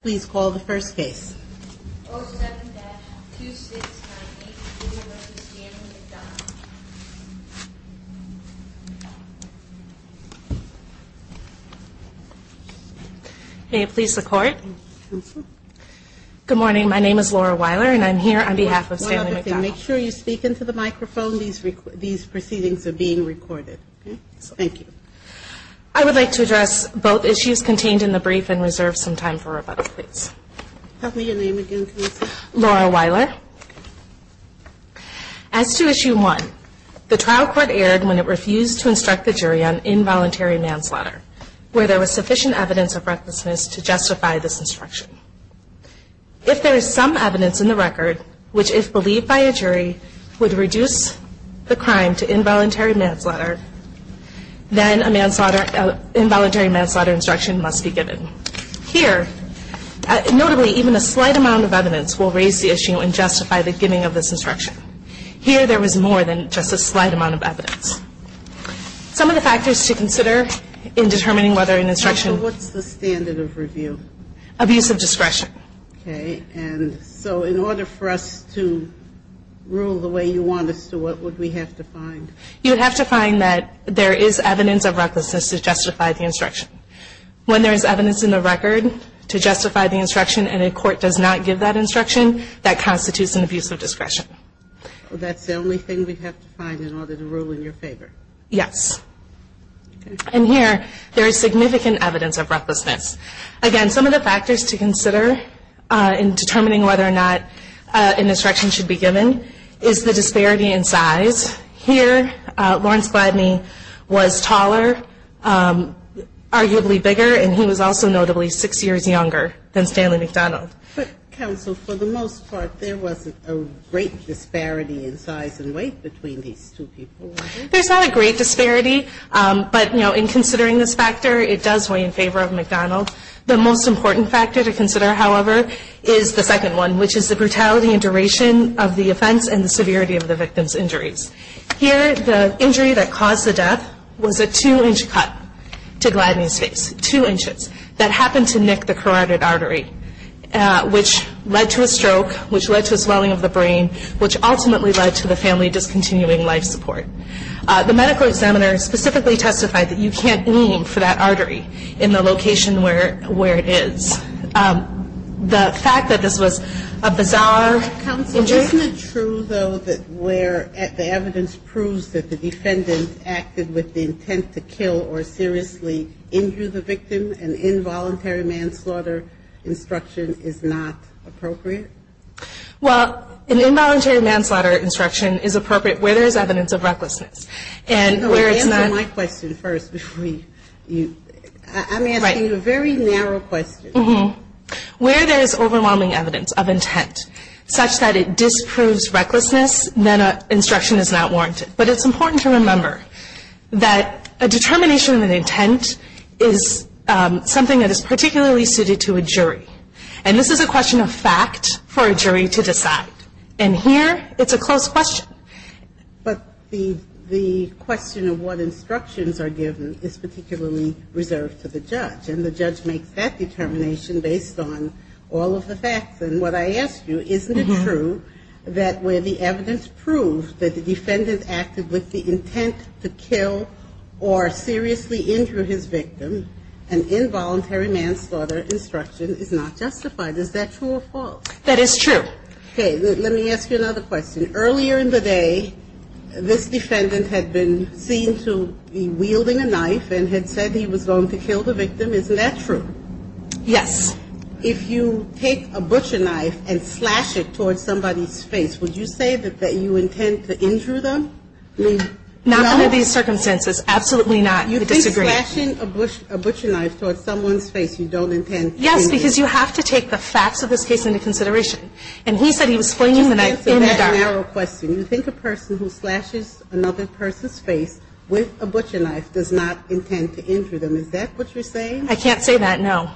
Please call the first case. 07-2698. May it please the court. Good morning. My name is Laura Weiler and I'm here on behalf of Stanley McDonald. Make sure you speak into the microphone. These proceedings are being recorded. Thank you. I would like to address both issues contained in the brief and reserve some time for rebuttal, please. Tell me your name again, please. Laura Weiler. As to Issue 1, the trial court erred when it refused to instruct the jury on involuntary manslaughter, where there was sufficient evidence of recklessness to justify this instruction. If there is some evidence in the record which, if believed by a jury, would reduce the crime to involuntary manslaughter, then a involuntary manslaughter instruction must be given. Here, notably, even a slight amount of evidence will raise the issue and justify the giving of this instruction. Here, there was more than just a slight amount of evidence. Some of the factors to consider in determining whether an instruction Counsel, what's the standard of review? Abuse of discretion. Okay. And so in order for us to rule the way you want us to, what would we have to find? You would have to find that there is evidence of recklessness to justify the instruction. When there is evidence in the record to justify the instruction and a court does not give that instruction, that constitutes an abuse of discretion. That's the only thing we'd have to find in order to rule in your favor? Yes. Okay. And here, there is significant evidence of recklessness. Again, some of the factors to consider in determining whether or not an instruction should be given is the disparity in size. Here, Lawrence Bladney was taller, arguably bigger, and he was also notably six years younger than Stanley McDonald. But, Counsel, for the most part, there wasn't a great disparity in size and weight between these two people, was there? There's not a great disparity. But, you know, in considering this factor, it does weigh in favor of McDonald. The most important factor to consider, however, is the second one, which is the brutality and duration of the offense and the severity of the victim's injuries. Here, the injury that caused the death was a two-inch cut to Bladney's face, two inches, that happened to nick the carotid artery, which led to a stroke, which led to a swelling of the brain, which ultimately led to the family discontinuing life support. The medical examiner specifically testified that you can't blame him for that artery in the location where it is. The fact that this was a bizarre counsel injury — Well, isn't it true, though, that where the evidence proves that the defendant acted with the intent to kill or seriously injure the victim, an involuntary manslaughter instruction is not appropriate? Well, an involuntary manslaughter instruction is appropriate where there is evidence of recklessness. And where it's not — Answer my question first before we — I'm asking you a very narrow question. Mm-hmm. Where there is overwhelming evidence of intent such that it disproves recklessness, then an instruction is not warranted. But it's important to remember that a determination of an intent is something that is particularly suited to a jury. And this is a question of fact for a jury to decide. And here, it's a closed question. But the question of what instructions are given is particularly reserved to the judge. And the judge makes that determination based on all of the facts. And what I ask you, isn't it true that where the evidence proves that the defendant acted with the intent to kill or seriously injure his victim, an involuntary manslaughter instruction is not justified? Is that true or false? That is true. Okay. Let me ask you another question. Earlier in the day, this defendant had been seen to be wielding a knife and had said he was going to kill the victim. Isn't that true? Yes. If you take a butcher knife and slash it towards somebody's face, would you say that you intend to injure them? Not under these circumstances. Absolutely not. You disagree. You think slashing a butcher knife towards someone's face, you don't intend to injure them. Yes, because you have to take the facts of this case into consideration. And he said he was flinging the knife in the dark. Just answer that narrow question. You think a person who slashes another person's face with a butcher knife does not intend to injure them. Is that what you're saying? I can't say that, no.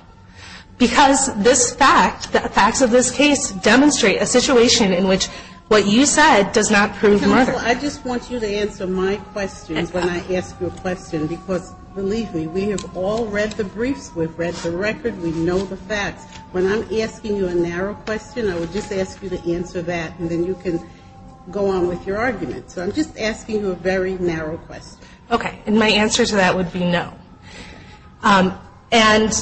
Because this fact, the facts of this case demonstrate a situation in which what you said does not prove murder. Well, I just want you to answer my questions when I ask you a question, because believe me, we have all read the briefs. We've read the record. We know the facts. When I'm asking you a narrow question, I would just ask you to answer that, and then you can go on with your argument. So I'm just asking you a very narrow question. Okay. And my answer to that would be no. And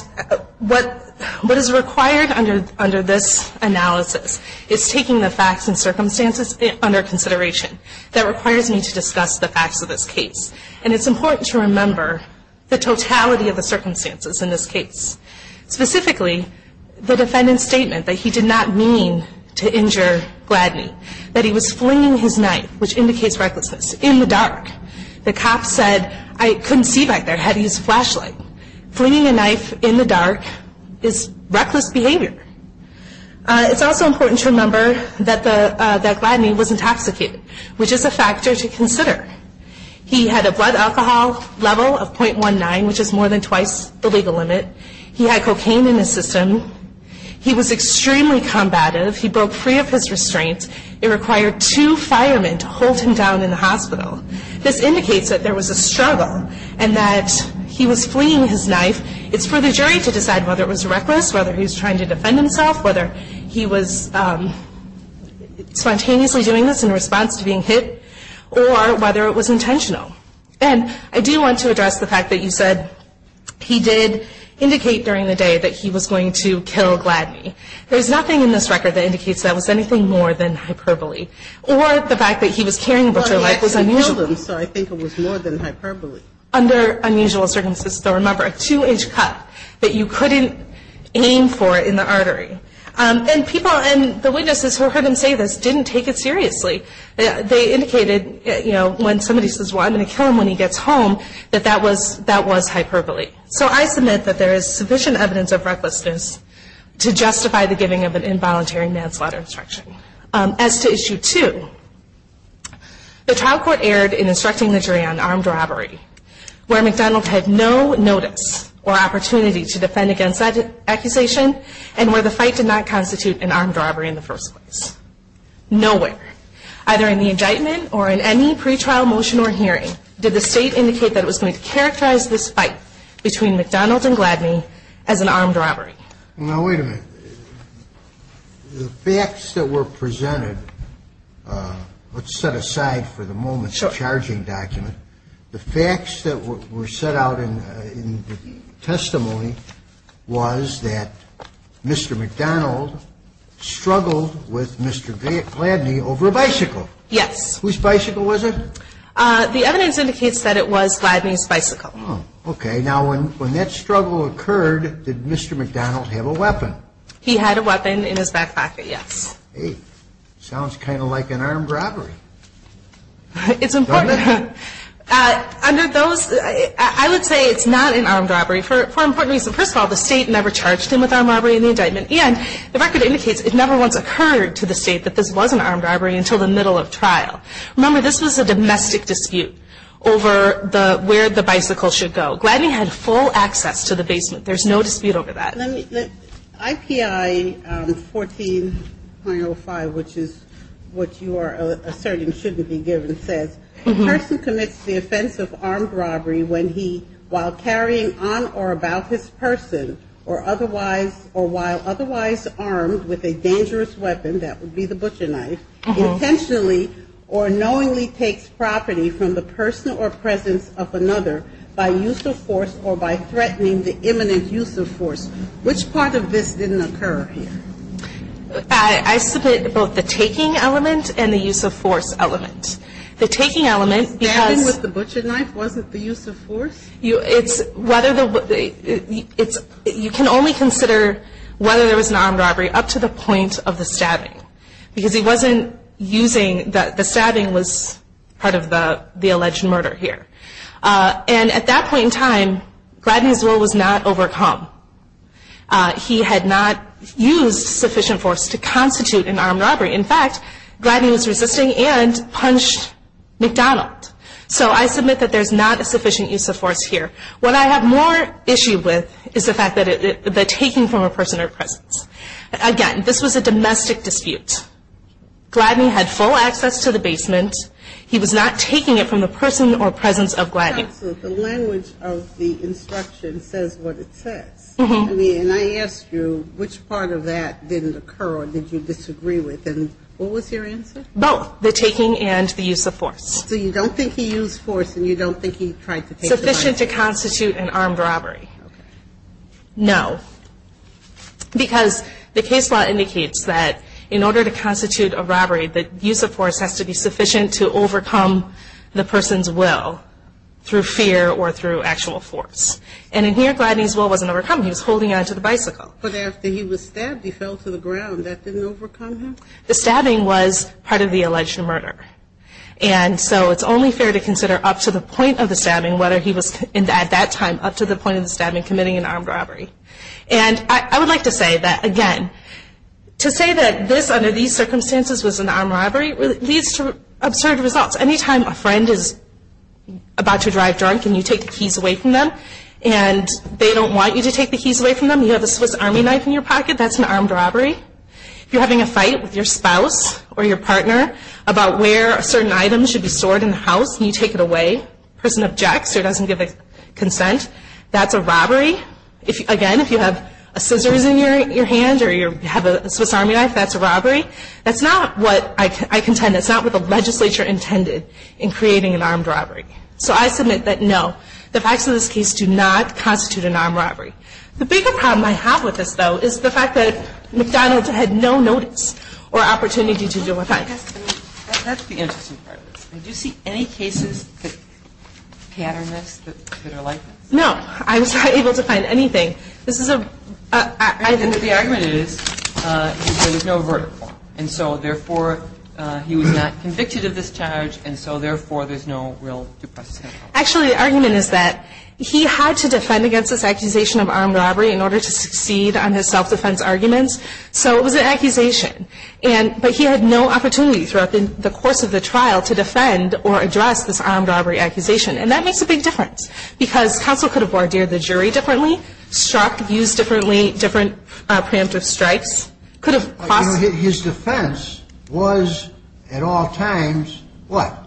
what is required under this analysis is taking the facts and circumstances under consideration. That requires me to discuss the facts of this case. And it's important to remember the totality of the circumstances in this case. Specifically, the defendant's statement that he did not mean to injure Gladney, that he was flinging his knife, which indicates recklessness, in the dark. The cop said, I couldn't see back there. I had to use a flashlight. Flinging a knife in the dark is reckless behavior. It's also important to remember that Gladney was intoxicated, which is a factor to consider. He had a blood alcohol level of .19, which is more than twice the legal limit. He had cocaine in his system. He was extremely combative. He broke free of his restraints. It required two firemen to hold him down in the hospital. This indicates that there was a struggle and that he was flinging his knife. It's for the jury to decide whether it was reckless, whether he was trying to defend himself, whether he was spontaneously doing this in response to being hit, or whether it was intentional. And I do want to address the fact that you said he did indicate during the day that he was going to kill Gladney. There's nothing in this record that indicates that was anything more than hyperbole. Or the fact that he was carrying a butcher knife was unusual. Well, he actually killed him, so I think it was more than hyperbole. Under unusual circumstances, though, remember, a two-inch cut that you couldn't aim for in the artery. And people and the witnesses who heard him say this didn't take it seriously. They indicated, you know, when somebody says, well, I'm going to kill him when he gets home, that that was hyperbole. So I submit that there is sufficient evidence of recklessness to justify the giving of an involuntary manslaughter instruction. As to Issue 2, the trial court erred in instructing the jury on armed robbery, where McDonald had no notice or opportunity to defend against that accusation and where the fight did not constitute an armed robbery in the first place. Nowhere, either in the indictment or in any pretrial motion or hearing, did the State indicate that it was going to characterize this fight between McDonald and Gladney as an armed robbery. Now, wait a minute. The facts that were presented, let's set aside for the moment the charging document. The facts that were set out in the testimony was that Mr. McDonald struggled with Mr. Gladney over a bicycle. Yes. Whose bicycle was it? The evidence indicates that it was Gladney's bicycle. Okay. Now, when that struggle occurred, did Mr. McDonald have a weapon? He had a weapon in his back pocket, yes. Hey, sounds kind of like an armed robbery. It's important. Under those, I would say it's not an armed robbery for important reasons. First of all, the State never charged him with armed robbery in the indictment, and the record indicates it never once occurred to the State that this was an armed robbery until the middle of trial. Remember, this was a domestic dispute over where the bicycle should go. Gladney had full access to the basement. There's no dispute over that. IPI 14.05, which is what you are asserting shouldn't be given, says, a person commits the offense of armed robbery when he, while carrying on or about his person, or otherwise, or while otherwise armed with a dangerous weapon, that would be the butcher knife, intentionally or knowingly takes property from the person or presence of another by use of force or by threatening the imminent use of force. Which part of this didn't occur here? I submit both the taking element and the use of force element. The taking element, because — Stabbing with the butcher knife wasn't the use of force? It's whether the — you can only consider whether there was an armed robbery up to the point of the stabbing, because he wasn't using — the stabbing was part of the alleged murder here. And at that point in time, Gladney's will was not overcome. He had not used sufficient force to constitute an armed robbery. In fact, Gladney was resisting and punched McDonald. So I submit that there's not a sufficient use of force here. What I have more issue with is the fact that the taking from a person or presence. Again, this was a domestic dispute. Gladney had full access to the basement. He was not taking it from the person or presence of Gladney. Counsel, the language of the instruction says what it says. And I ask you, which part of that didn't occur or did you disagree with? And what was your answer? Both, the taking and the use of force. So you don't think he used force and you don't think he tried to take the — Sufficient to constitute an armed robbery. Okay. No. Because the case law indicates that in order to constitute a robbery, the use of force has to be sufficient to overcome the person's will through fear or through actual force. And in here, Gladney's will wasn't overcome. He was holding on to the bicycle. But after he was stabbed, he fell to the ground. That didn't overcome him? The stabbing was part of the alleged murder. And so it's only fair to consider up to the point of the stabbing, whether he was at that time up to the point of the stabbing committing an armed robbery. And I would like to say that, again, to say that this, under these circumstances, was an armed robbery leads to absurd results. Anytime a friend is about to drive drunk and you take the keys away from them and they don't want you to take the keys away from them, you have a Swiss Army knife in your pocket, that's an armed robbery. If you're having a fight with your spouse or your partner about where certain items should be stored in the house and you take it away, the person objects or doesn't give consent, that's a robbery. Again, if you have scissors in your hand or you have a Swiss Army knife, that's a robbery. That's not what I contend. That's not what the legislature intended in creating an armed robbery. So I submit that, no, the facts of this case do not constitute an armed robbery. The bigger problem I have with this, though, is the fact that McDonald's had no notice or opportunity to do a crime. That's the interesting part of this. Did you see any cases that pattern this, that are like this? No. I was not able to find anything. This is a – I think the argument is there was no verdict. And so, therefore, he was not convicted of this charge, and so, therefore, there's no real due process. Actually, the argument is that he had to defend against this accusation of armed robbery in order to succeed on his self-defense arguments. So it was an accusation. But he had no opportunity throughout the course of the trial to defend or address this armed robbery accusation. And that makes a big difference because counsel could have barred the jury differently, struck, used differently, different preemptive strikes, could have – His defense was at all times what?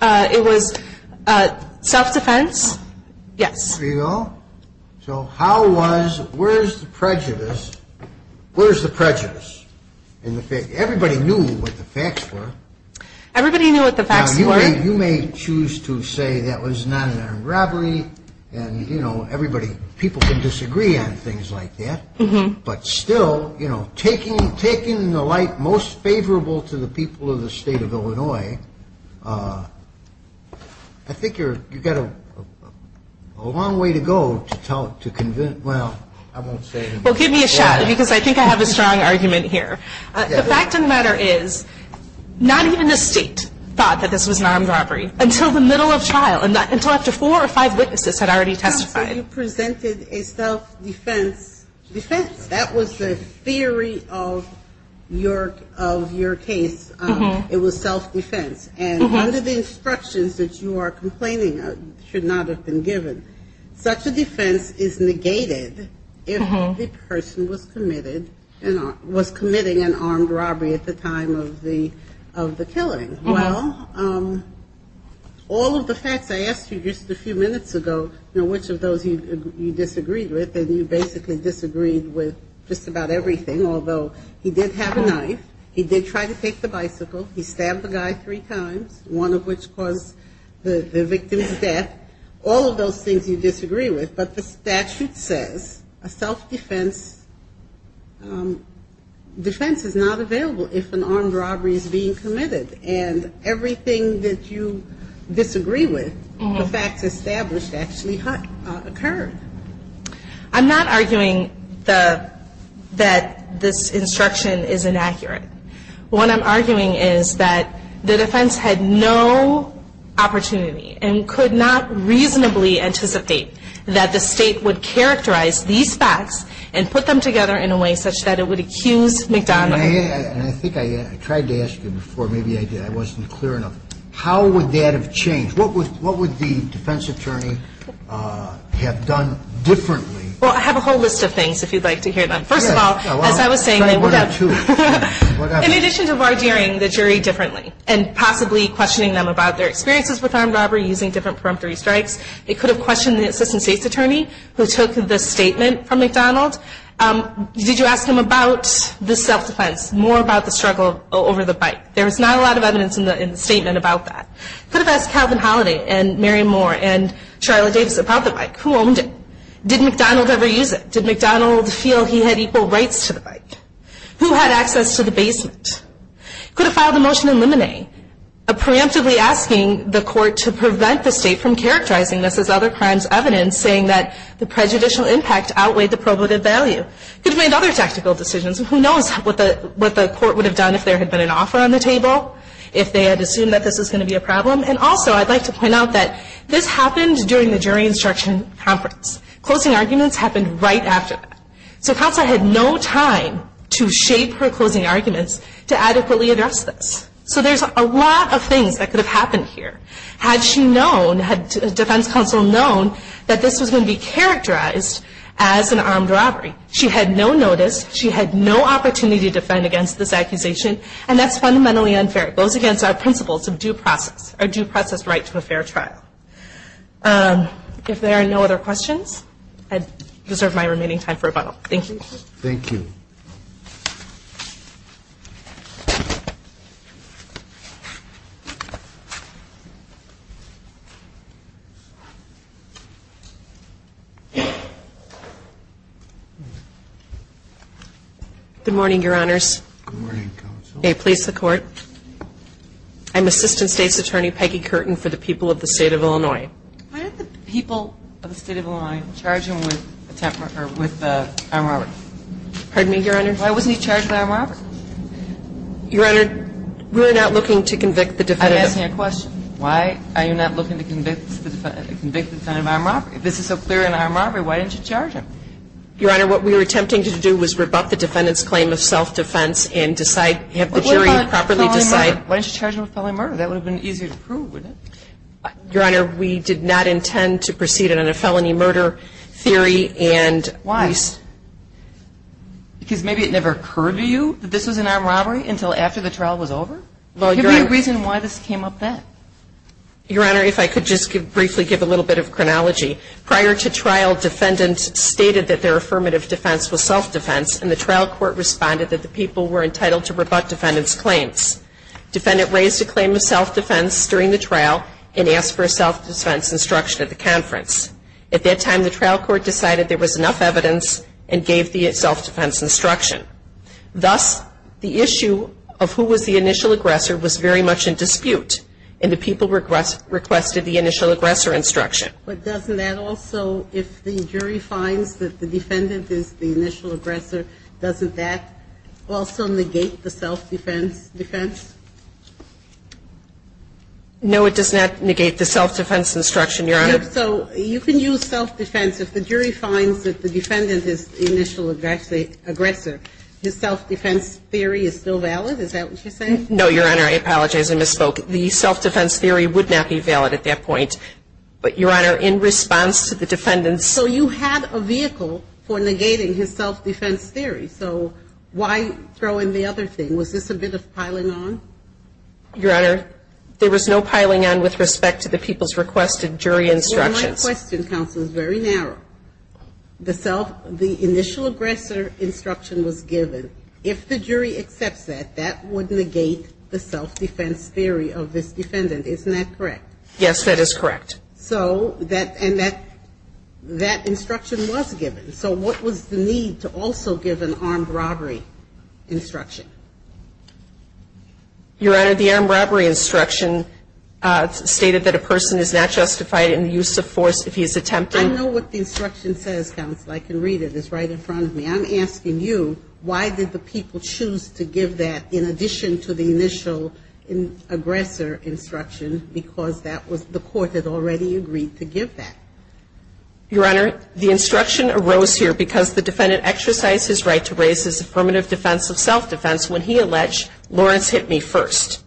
It was self-defense, yes. There you go. So how was – where is the prejudice? Where is the prejudice? Everybody knew what the facts were. Everybody knew what the facts were. Now, you may choose to say that was not an armed robbery and, you know, everybody – people can disagree on things like that. But still, you know, taking the light most favorable to the people of the state of Illinois, I think you've got a long way to go to convince – well, I won't say any more. Well, give me a shot because I think I have a strong argument here. The fact of the matter is not even the State thought that this was an armed robbery until the middle of trial, until after four or five witnesses had already testified. Counsel, you presented a self-defense defense. That was the theory of your case. It was self-defense. And under the instructions that you are complaining should not have been given, such a defense is negated if the person was committed – was committing an armed robbery at the time of the killing. Well, all of the facts I asked you just a few minutes ago, which of those you disagreed with, and you basically disagreed with just about everything, although he did have a knife, he did try to take the bicycle, he stabbed the guy three times, one of which caused the victim's death, all of those things you disagree with. But the statute says a self-defense – defense is not available if an armed robbery is being committed. And everything that you disagree with, the facts established actually occurred. I'm not arguing that this instruction is inaccurate. What I'm arguing is that the defense had no opportunity and could not reasonably anticipate that the State would characterize these facts and put them together in a way such that it would accuse McDonald. And I think I tried to ask you before, maybe I wasn't clear enough. How would that have changed? What would the defense attorney have done differently? Well, I have a whole list of things, if you'd like to hear them. First of all, as I was saying, they would have – Say one or two. In addition to bargering the jury differently and possibly questioning them about their experiences with armed robbery, using different preemptory strikes, it could have questioned the assistant State's attorney who took the statement from McDonald. Did you ask him about the self-defense, more about the struggle over the bike? There was not a lot of evidence in the statement about that. Could have asked Calvin Holliday and Mary Moore and Charlotte Davis about the bike. Who owned it? Did McDonald ever use it? Did McDonald feel he had equal rights to the bike? Who had access to the basement? Could have filed a motion in limine, preemptively asking the court to prevent the State from characterizing this as other crimes evidence, saying that the prejudicial impact outweighed the probative value. Could have made other tactical decisions. Who knows what the court would have done if there had been an offer on the table, if they had assumed that this was going to be a problem. And also I'd like to point out that this happened during the jury instruction conference. Closing arguments happened right after that. So counsel had no time to shape her closing arguments to adequately address this. So there's a lot of things that could have happened here. Had she known, had defense counsel known, that this was going to be characterized as an armed robbery. She had no notice. She had no opportunity to defend against this accusation. And that's fundamentally unfair. It goes against our principles of due process. Our due process right to a fair trial. If there are no other questions, I deserve my remaining time for rebuttal. Thank you. Thank you. Good morning, Your Honors. Good morning, counsel. May it please the Court. I'm Assistant State's Attorney Peggy Curtin for the people of the State of Illinois. Why did the people of the State of Illinois charge him with attempt or with armed robbery? Pardon me, Your Honor? Why wasn't he charged with armed robbery? Your Honor, we're not looking to convict the defendant. I'm asking a question. Why are you not looking to convict the defendant of armed robbery? If this is so clear in armed robbery, why didn't you charge him? Your Honor, what we were attempting to do was rebut the defendant's claim of self-defense and decide, have the jury properly decide. Why didn't you charge him with felony murder? That would have been easier to prove, wouldn't it? Your Honor, we did not intend to proceed on a felony murder theory and we used to. Why? Because maybe it never occurred to you that this was an armed robbery until after the trial was over? Well, Your Honor. Give me a reason why this came up then. Your Honor, if I could just briefly give a little bit of chronology. Prior to trial, defendants stated that their affirmative defense was self-defense and the trial court responded that the people were entitled to rebut defendant's claims. Defendant raised a claim of self-defense during the trial and asked for a self-defense instruction at the conference. At that time, the trial court decided there was enough evidence and gave the self-defense instruction. Thus, the issue of who was the initial aggressor was very much in dispute and the people requested the initial aggressor instruction. But doesn't that also, if the jury finds that the defendant is the initial aggressor, doesn't that also negate the self-defense defense? No, it does not negate the self-defense instruction, Your Honor. So you can use self-defense. If the jury finds that the defendant is the initial aggressor, his self-defense theory is still valid? Is that what you're saying? No, Your Honor, I apologize. I misspoke. The self-defense theory would not be valid at that point. But, Your Honor, in response to the defendant's ---- So you had a vehicle for negating his self-defense theory. So why throw in the other thing? Was this a bit of piling on? Your Honor, there was no piling on with respect to the people's requested jury instructions. Well, my question, counsel, is very narrow. The initial aggressor instruction was given. If the jury accepts that, that would negate the self-defense theory of this defendant. Isn't that correct? Yes, that is correct. So that instruction was given. So what was the need to also give an armed robbery instruction? Your Honor, the armed robbery instruction stated that a person is not justified in the use of force if he is attempting ---- I know what the instruction says, counsel. I can read it. It's right in front of me. I'm asking you why did the people choose to give that in addition to the initial aggressor instruction because that was the court that already agreed to give that? Your Honor, the instruction arose here because the defendant exercised his right to raise his affirmative defense of self-defense when he alleged, Lawrence hit me first.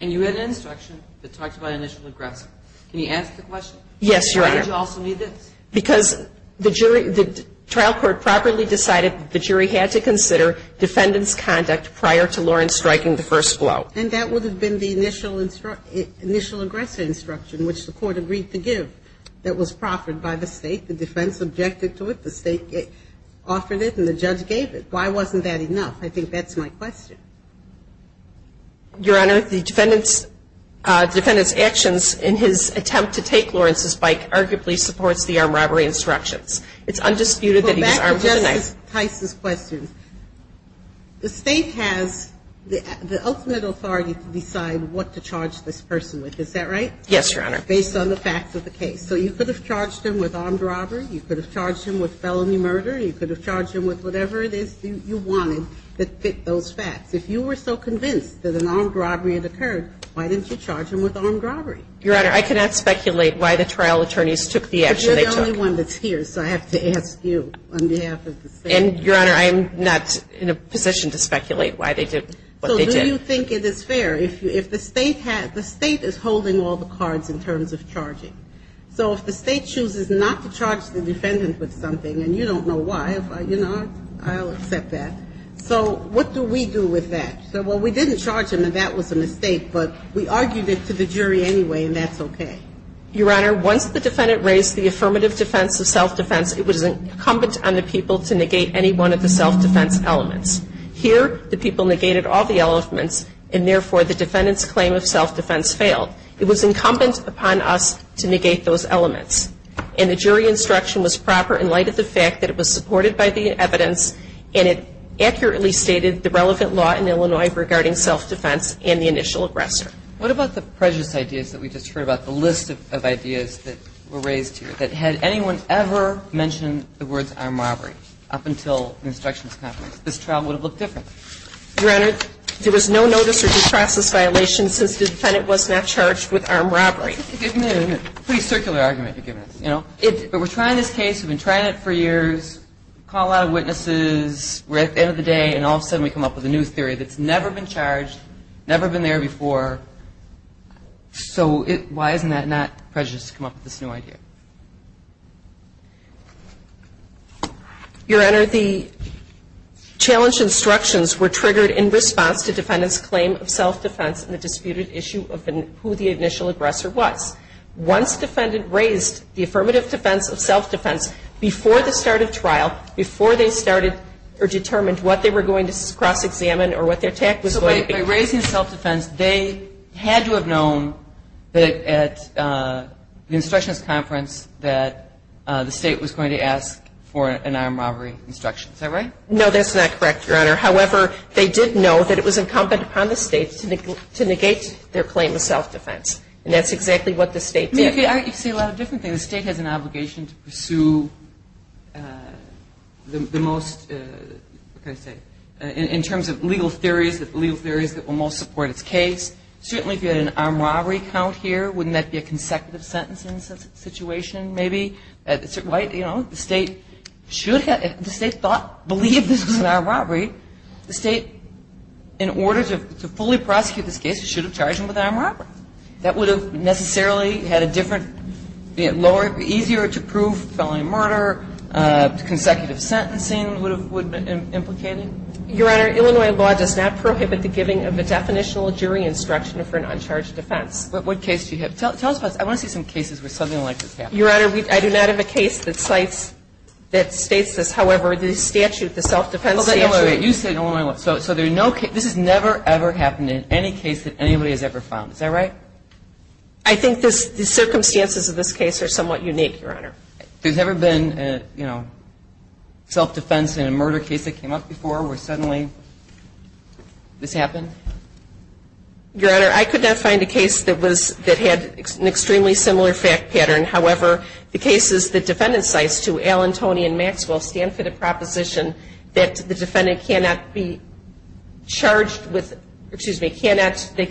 And you had an instruction that talked about initial aggressor. Can you answer the question? Yes, Your Honor. Why did you also need this? Because the jury ---- the trial court properly decided that the jury had to consider defendant's conduct prior to Lawrence striking the first blow. And that would have been the initial aggressor instruction, which the court agreed to give, that was proffered by the State. The defense objected to it. The State offered it and the judge gave it. Why wasn't that enough? I think that's my question. Your Honor, the defendant's actions in his attempt to take Lawrence's bike arguably supports the armed robbery instructions. It's undisputed that he was armed with a knife. I'm going to ask Tice's question. The State has the ultimate authority to decide what to charge this person with. Is that right? Yes, Your Honor. Based on the facts of the case. So you could have charged him with armed robbery. You could have charged him with felony murder. You could have charged him with whatever it is you wanted that fit those facts. If you were so convinced that an armed robbery had occurred, why didn't you charge him with armed robbery? Your Honor, I cannot speculate why the trial attorneys took the action they took. I'm the only one that's here, so I have to ask you on behalf of the State. And, Your Honor, I'm not in a position to speculate why they did what they did. So do you think it is fair, if the State has the State is holding all the cards in terms of charging. So if the State chooses not to charge the defendant with something, and you don't know why, you know, I'll accept that. So what do we do with that? So, well, we didn't charge him, and that was a mistake, but we argued it to the jury anyway, and that's okay. Your Honor, once the defendant raised the affirmative defense of self-defense, it was incumbent on the people to negate any one of the self-defense elements. Here, the people negated all the elements, and therefore the defendant's claim of self-defense failed. It was incumbent upon us to negate those elements. And the jury instruction was proper in light of the fact that it was supported by the evidence, and it accurately stated the relevant law in Illinois regarding self-defense and the initial aggressor. What about the prejudice ideas that we just heard about, the list of ideas that were raised here? That had anyone ever mentioned the words armed robbery up until the instructions conference, this trial would have looked different. Your Honor, there was no notice or due process violation since the defendant was not charged with armed robbery. Pretty circular argument you're giving us, you know. But we're trying this case. We've been trying it for years. Call out witnesses. We're at the end of the day, and all of a sudden we come up with a new theory that's never been charged, never been there before. So why isn't that not prejudice to come up with this new idea? Your Honor, the challenge instructions were triggered in response to defendant's claim of self-defense and the disputed issue of who the initial aggressor was. Once defendant raised the affirmative defense of self-defense before the start of trial, before they started or determined what they were going to cross-examine or what their attack was going to be. So by raising self-defense, they had to have known that at the instructions conference that the State was going to ask for an armed robbery instruction. Is that right? No, that's not correct, Your Honor. However, they did know that it was incumbent upon the State to negate their claim of self-defense. And that's exactly what the State did. I see a lot of different things. The State has an obligation to pursue the most, what can I say, in terms of legal theories, the legal theories that will most support its case. Certainly if you had an armed robbery count here, wouldn't that be a consecutive sentence in this situation maybe? The State should have, if the State thought, believed this was an armed robbery, the State, in order to fully prosecute this case, should have charged them with armed robbery. That would have necessarily had a different, lower, easier to prove felony murder. Consecutive sentencing would have been implicated. Your Honor, Illinois law does not prohibit the giving of a definitional jury instruction for an uncharged defense. What case do you have? Tell us about this. I want to see some cases where something like this happened. Your Honor, I do not have a case that cites, that states this. However, the statute, the self-defense statute. Wait, wait, wait. You said Illinois law. So there's no case. This has never, ever happened in any case that anybody has ever filed. Is that right? I think the circumstances of this case are somewhat unique, Your Honor. There's never been a, you know, self-defense in a murder case that came up before where suddenly this happened? Your Honor, I could not find a case that was, that had an extremely similar fact pattern. However, the cases the defendant cites to Allen, Toney, and Maxwell stand for the proposition that the defendant cannot be charged with, or excuse me, cannot, the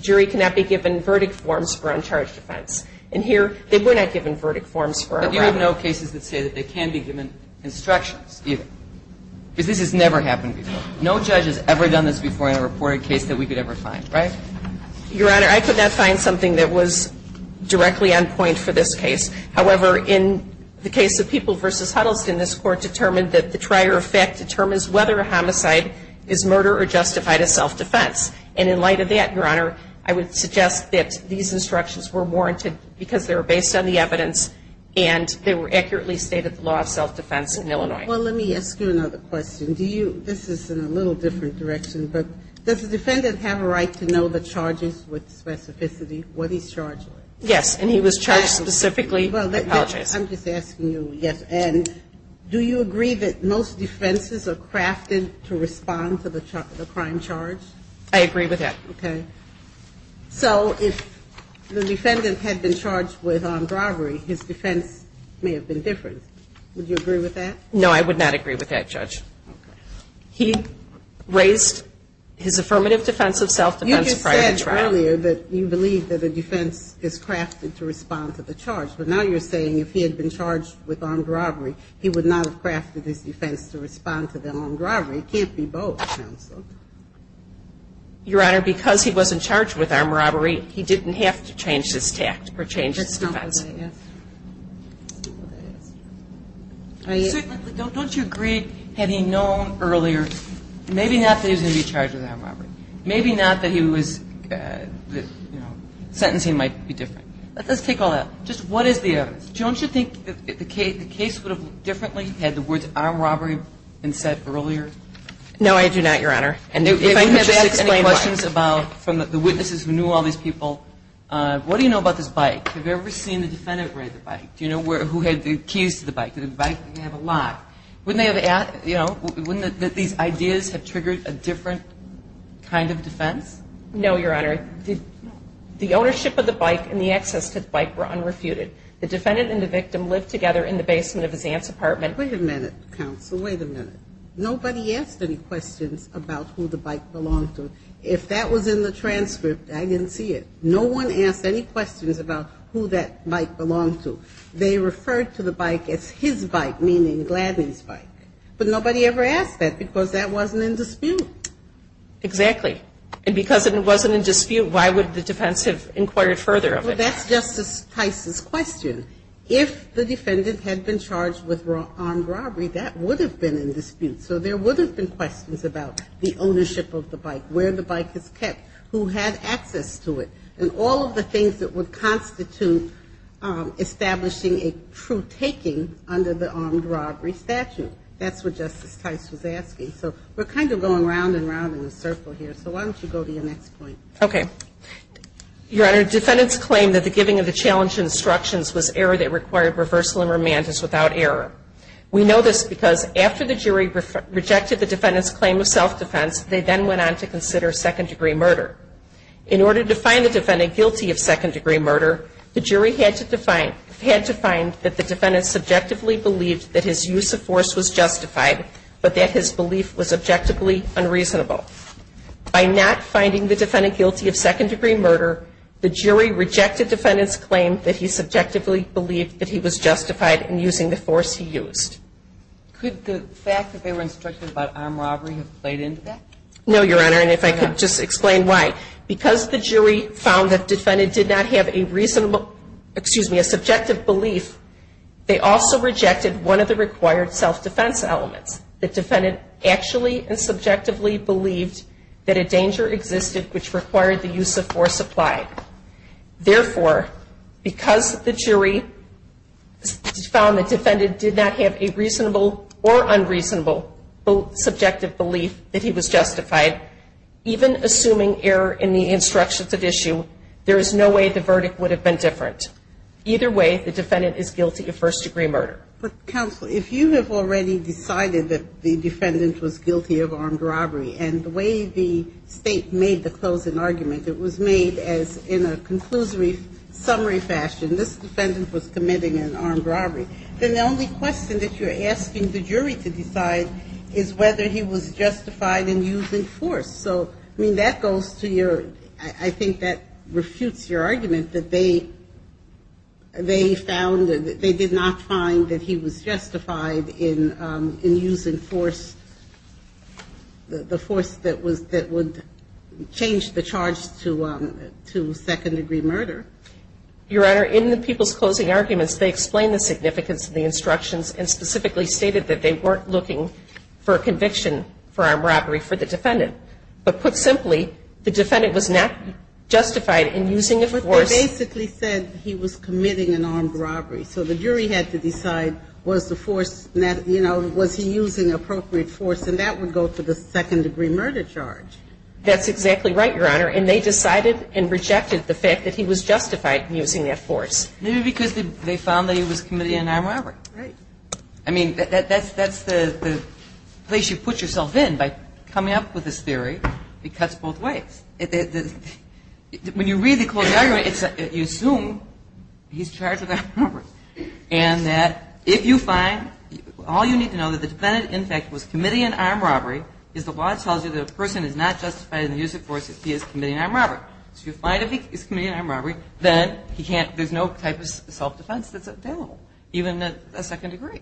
jury cannot be given verdict forms for uncharged offense. And here, they were not given verdict forms for a robbery. But you have no cases that say that they can be given instructions either. Because this has never happened before. No judge has ever done this before in a reported case that we could ever find. Right? Your Honor, I could not find something that was directly on point for this case. However, in the case of People v. Huddleston, this Court determined that the trier of fact determines whether a homicide is murder or justified as self-defense. And in light of that, Your Honor, I would suggest that these instructions were warranted because they were based on the evidence and they were accurately stated in the law of self-defense in Illinois. Well, let me ask you another question. Do you, this is in a little different direction, but does the defendant have a right to know the charges with specificity, what he's charged with? Yes. And he was charged specifically, I apologize. I'm just asking you, yes. And do you agree that most defenses are crafted to respond to the crime charge? I agree with that. Okay. So if the defendant had been charged with armed robbery, his defense may have been different. Would you agree with that? No, I would not agree with that, Judge. Okay. He raised his affirmative defense of self-defense prior to trial. You just said earlier that you believe that a defense is crafted to respond to the charge. But now you're saying if he had been charged with armed robbery, he would not have crafted his defense to respond to the armed robbery. It can't be both, Counsel. Your Honor, because he wasn't charged with armed robbery, he didn't have to change his tact or change his defense. That's not what I asked. That's not what I asked. I certainly don't. Don't you agree, had he known earlier, maybe not that he was going to be charged with armed robbery. Maybe not that he was, you know, sentencing might be different. Let's take all that. Just what is the evidence? Don't you think the case would have looked differently had the words armed robbery been said earlier? No, I do not, Your Honor. And if I could just ask any questions about, from the witnesses who knew all these people, what do you know about this bike? Have you ever seen the defendant ride the bike? Do you know who had the keys to the bike? Did the bike have a lock? Wouldn't they have, you know, wouldn't these ideas have triggered a different kind of defense? No, Your Honor. The ownership of the bike and the access to the bike were unrefuted. The defendant and the victim lived together in the basement of his aunt's apartment. Wait a minute, Counsel. Wait a minute. Nobody asked any questions about who the bike belonged to. If that was in the transcript, I didn't see it. No one asked any questions about who that bike belonged to. They referred to the bike as his bike, meaning Gladney's bike. But nobody ever asked that because that wasn't in dispute. Exactly. And because it wasn't in dispute, why would the defense have inquired further of it? Well, that's Justice Tice's question. If the defendant had been charged with armed robbery, that would have been in dispute. So there would have been questions about the ownership of the bike, where the bike is kept, who had access to it, and all of the things that would constitute establishing a true taking under the armed robbery statute. That's what Justice Tice was asking. So we're kind of going round and round in a circle here, so why don't you go to your next point? Okay. Your Honor, defendants claim that the giving of the challenge instructions was error that required reversal and remand is without error. We know this because after the jury rejected the defendant's claim of self-defense, they then went on to consider second-degree murder. In order to find the defendant guilty of second-degree murder, the jury had to find that the defendant subjectively believed that his use of force was justified, but that his belief was objectively unreasonable. By not finding the defendant guilty of second-degree murder, the jury rejected defendant's claim that he subjectively believed that he was Could the fact that they were instructed about armed robbery have played into that? No, Your Honor, and if I could just explain why. Because the jury found that defendant did not have a reasonable, excuse me, a subjective belief, they also rejected one of the required self-defense elements, that defendant actually and subjectively believed that a danger existed which required the use of force applied. Therefore, because the jury found the defendant did not have a reasonable or unreasonable subjective belief that he was justified, even assuming error in the instructions at issue, there is no way the verdict would have been different. Either way, the defendant is guilty of first-degree murder. But counsel, if you have already decided that the defendant was guilty of armed robbery, and the way the State made the closing argument, it was made as in a conclusory summary fashion, this defendant was committing an armed robbery, then the only question that you're asking the jury to decide is whether he was justified in using force. So, I mean, that goes to your, I think that refutes your argument that they found, they did not find that he was justified in using force, the force that would change the charge to second-degree murder. Your Honor, in the people's closing arguments, they explain the significance of the instructions and specifically stated that they weren't looking for conviction for armed robbery for the defendant. But put simply, the defendant was not justified in using a force. But they basically said he was committing an armed robbery. So the jury had to decide was the force, you know, was he using appropriate force and that would go to the second-degree murder charge. That's exactly right, Your Honor. And they decided and rejected the fact that he was justified in using that force. Maybe because they found that he was committing an armed robbery. Right. I mean, that's the place you put yourself in by coming up with this theory. It cuts both ways. When you read the closing argument, you assume he's charged with armed robbery and that if you find, all you need to know that the defendant, in fact, was committing an armed robbery is the law tells you that a person is not justified in using force if he is committing an armed robbery. So you find if he's committing an armed robbery, then there's no type of self-defense that's available, even a second degree.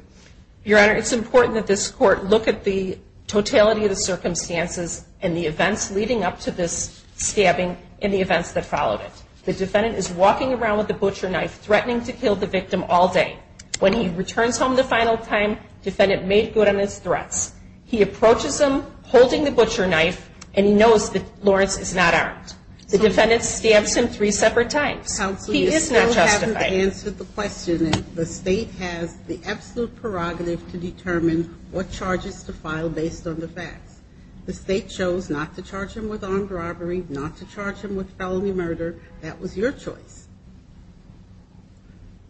Your Honor, it's important that this Court look at the totality of the circumstances and the events leading up to this stabbing and the events that followed it. The defendant is walking around with a butcher knife, threatening to kill the victim all day. When he returns home the final time, the defendant made good on his threats. He approaches him, holding the butcher knife, and he knows that Lawrence is not armed. The defendant stabs him three separate times. He is not justified. Counsel, you still haven't answered the question. The State has the absolute prerogative to determine what charges to file based on the facts. The State chose not to charge him with armed robbery, not to charge him with felony murder. That was your choice.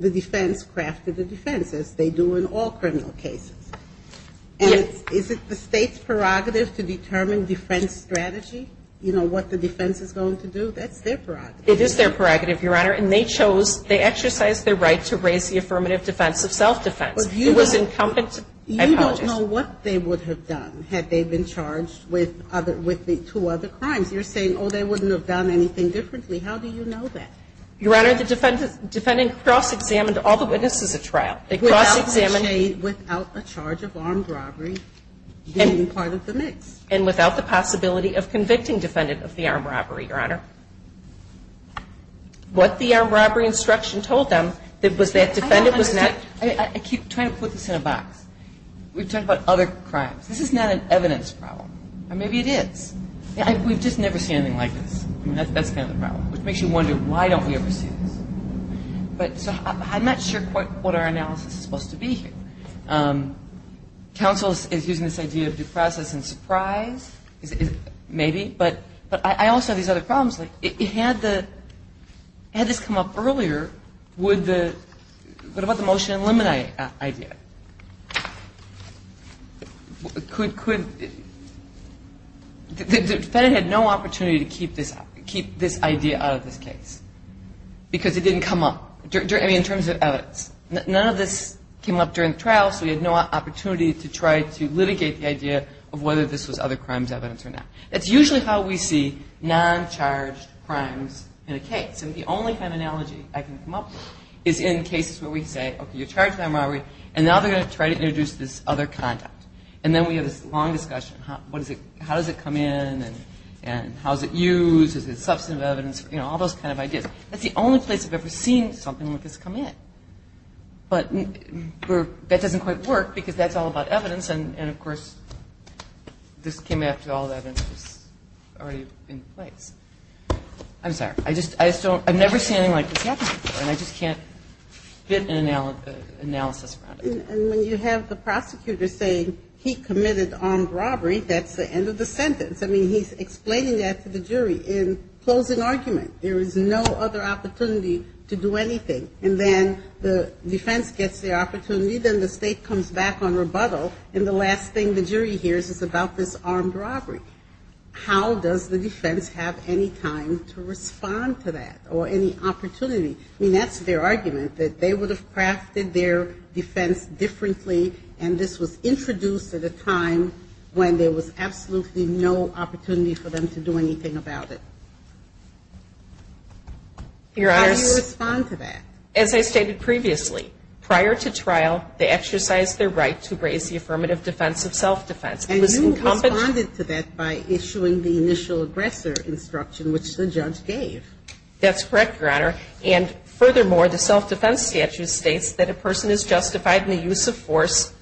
The defense crafted the defense, as they do in all criminal cases. And is it the State's prerogative to determine defense strategy? You know, what the defense is going to do? That's their prerogative. It is their prerogative, Your Honor. And they chose, they exercised their right to raise the affirmative defense of self-defense. It was incumbent. I apologize. You don't know what they would have done had they been charged with the two other crimes. You're saying, oh, they wouldn't have done anything differently. How do you know that? Your Honor, the defendant cross-examined all the witnesses at trial. They cross-examined. Without a charge of armed robbery being part of the mix. And without the possibility of convicting defendant of the armed robbery, Your Honor. What the armed robbery instruction told them was that defendant was not. I keep trying to put this in a box. We've talked about other crimes. This is not an evidence problem. Or maybe it is. We've just never seen anything like this. That's kind of the problem. Which makes you wonder, why don't we ever see this? But I'm not sure quite what our analysis is supposed to be here. Counsel is using this idea of due process and surprise. Maybe. But I also have these other problems. Had this come up earlier, what about the motion to eliminate idea? Could the defendant have no opportunity to keep this idea out of this case? Because it didn't come up. I mean, in terms of evidence. None of this came up during the trial, so we had no opportunity to try to litigate the idea of whether this was other crimes evidence or not. That's usually how we see non-charged crimes in a case. And the only kind of analogy I can come up with is in cases where we say, okay, you're charged with non-robbery, and now they're going to try to introduce this other conduct. And then we have this long discussion. How does it come in and how is it used? Is it substantive evidence? You know, all those kind of ideas. That's the only place I've ever seen something like this come in. But that doesn't quite work because that's all about evidence, and, of course, this came after all the evidence was already in place. I'm sorry. I've never seen anything like this happen before, and I just can't get an analysis around it. And when you have the prosecutor saying he committed armed robbery, that's the end of the sentence. I mean, he's explaining that to the jury in closing argument. There is no other opportunity to do anything. And then the defense gets the opportunity, then the State comes back on rebuttal, and the last thing the jury hears is about this armed robbery. How does the defense have any time to respond to that or any opportunity? I mean, that's their argument, that they would have crafted their defense differently, and this was introduced at a time when there was absolutely no opportunity for them to do anything about it. How do you respond to that? As I stated previously, prior to trial, they exercised their right to raise the affirmative defense of self-defense. And you responded to that by issuing the initial aggressor instruction, which the judge gave. That's correct, Your Honor. And furthermore, the self-defense statute states that a person is justified in the use of force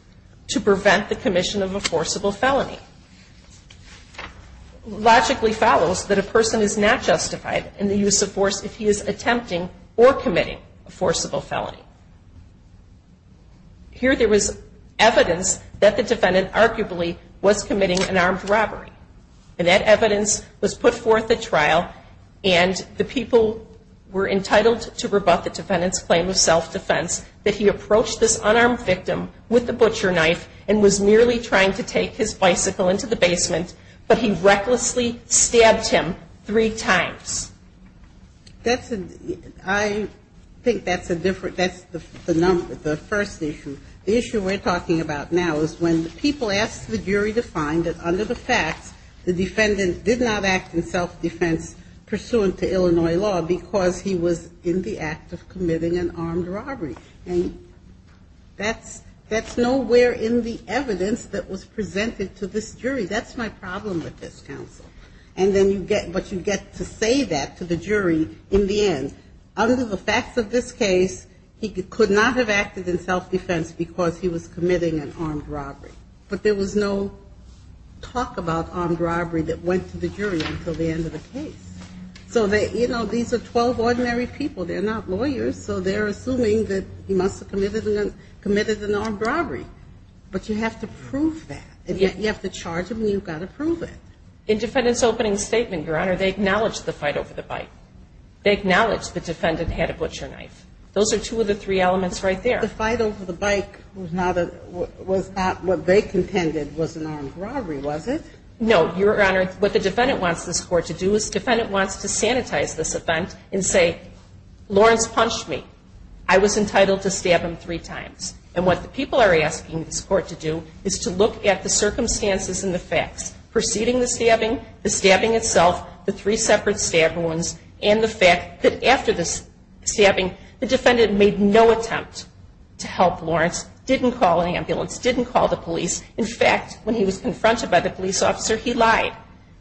to prevent the commission of a forcible felony. Logically follows that a person is not justified in the use of force if he is attempting or committing a forcible felony. Here there was evidence that the defendant arguably was committing an armed robbery, and that evidence was put forth at trial, and the people were entitled to rebut the defendant's claim of self-defense, that he approached this unarmed victim with a butcher knife and was merely trying to take his bicycle into the basement, but he recklessly stabbed him three times. That's a, I think that's a different, that's the number, the first issue. The issue we're talking about now is when the people asked the jury to find that under the facts, the defendant did not act in self-defense pursuant to Illinois law because he was in the act of committing an armed robbery. And that's nowhere in the evidence that was presented to this jury. That's my problem with this counsel. And then you get, but you get to say that to the jury in the end. Under the facts of this case, he could not have acted in self-defense because he was committing an armed robbery. But there was no talk about armed robbery that went to the jury until the end of the case. So they, you know, these are 12 ordinary people. They're not lawyers, so they're assuming that he must have committed an armed robbery. But you have to prove that. And yet you have to charge him, and you've got to prove it. In defendant's opening statement, Your Honor, they acknowledged the fight over the bike. They acknowledged the defendant had a butcher knife. Those are two of the three elements right there. The fight over the bike was not a, was not what they contended was an armed robbery, was it? No, Your Honor. What the defendant wants this court to do is the defendant wants to sanitize this event and say, Lawrence punched me. I was entitled to stab him three times. And what the people are asking this court to do is to look at the circumstances and the facts preceding the stabbing, the stabbing itself, the three separate stab wounds, and the fact that after the stabbing, the defendant made no attempt to help Lawrence, didn't call an ambulance, didn't call the police. In fact, when he was confronted by the police officer, he lied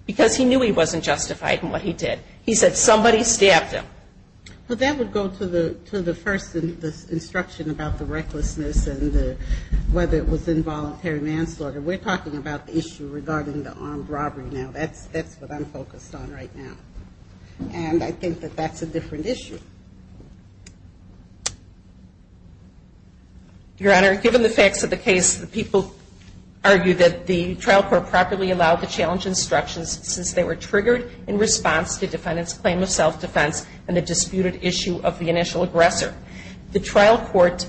because he knew he wasn't justified in what he did. He said somebody stabbed him. Well, that would go to the first instruction about the recklessness and whether it was involuntary manslaughter. We're talking about the issue regarding the armed robbery now. That's what I'm focused on right now. And I think that that's a different issue. Your Honor, given the facts of the case, the people argue that the trial court properly allowed the challenge instructions since they were triggered in response to the defendant's claim of self-defense and the disputed issue of the initial aggressor. The trial court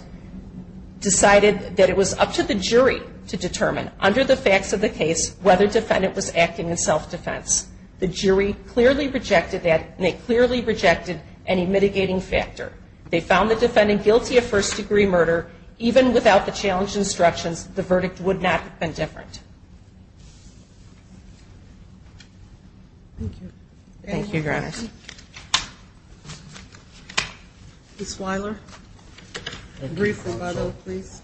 decided that it was up to the jury to determine, under the facts of the case, whether the defendant was acting in self-defense. The jury clearly rejected that, and they clearly rejected any mitigating factor. They found the defendant guilty of first-degree murder. Even without the challenge instructions, the verdict would not have been different. Thank you. Thank you, Your Honor. Ms. Weiler, a brief rebuttal, please.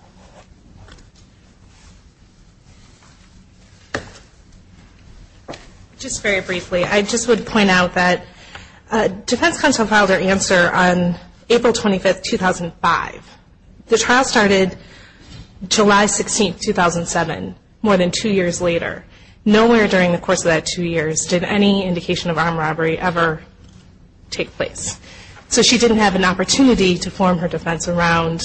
Just very briefly, I just would point out that defense counsel filed their answer on April 25, 2005. The trial started July 16, 2007, more than two years later. Nowhere during the course of that two years did any indication of armed robbery ever take place. So she didn't have an opportunity to form her defense around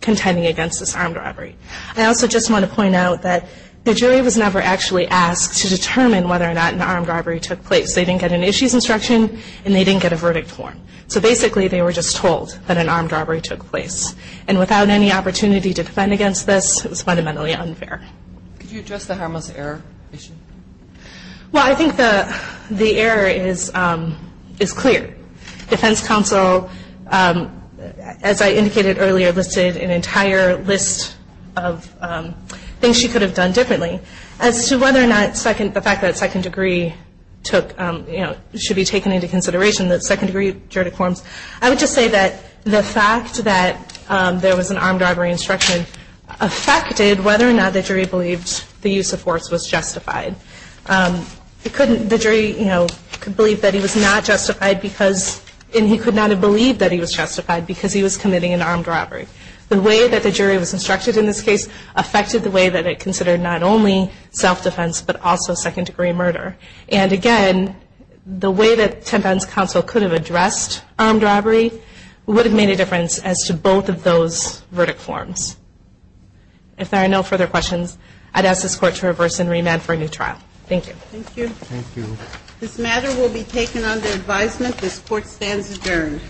contending against this armed robbery. I also just want to point out that the jury was never actually asked to determine whether or not an armed robbery took place. They didn't get an issues instruction, and they didn't get a verdict form. So basically, they were just told that an armed robbery took place. And without any opportunity to defend against this, it was fundamentally unfair. Could you address the harmless error issue? Well, I think the error is clear. Defense counsel, as I indicated earlier, listed an entire list of things she could have done differently. As to whether or not the fact that second degree should be taken into consideration, the second degree juridic forms, I would just say that the fact that there was an armed robbery instruction affected whether or not the jury believed the use of force was justified. The jury could believe that he was not justified because, and he could not have believed that he was justified because he was committing an armed robbery. The way that the jury was instructed in this case affected the way that it considered not only self-defense but also second degree murder. And again, the way that defense counsel could have addressed armed robbery would have made a difference as to both of those verdict forms. If there are no further questions, I'd ask this Court to reverse and remand for a new trial. Thank you. Thank you. This matter will be taken under advisement. This Court stands adjourned.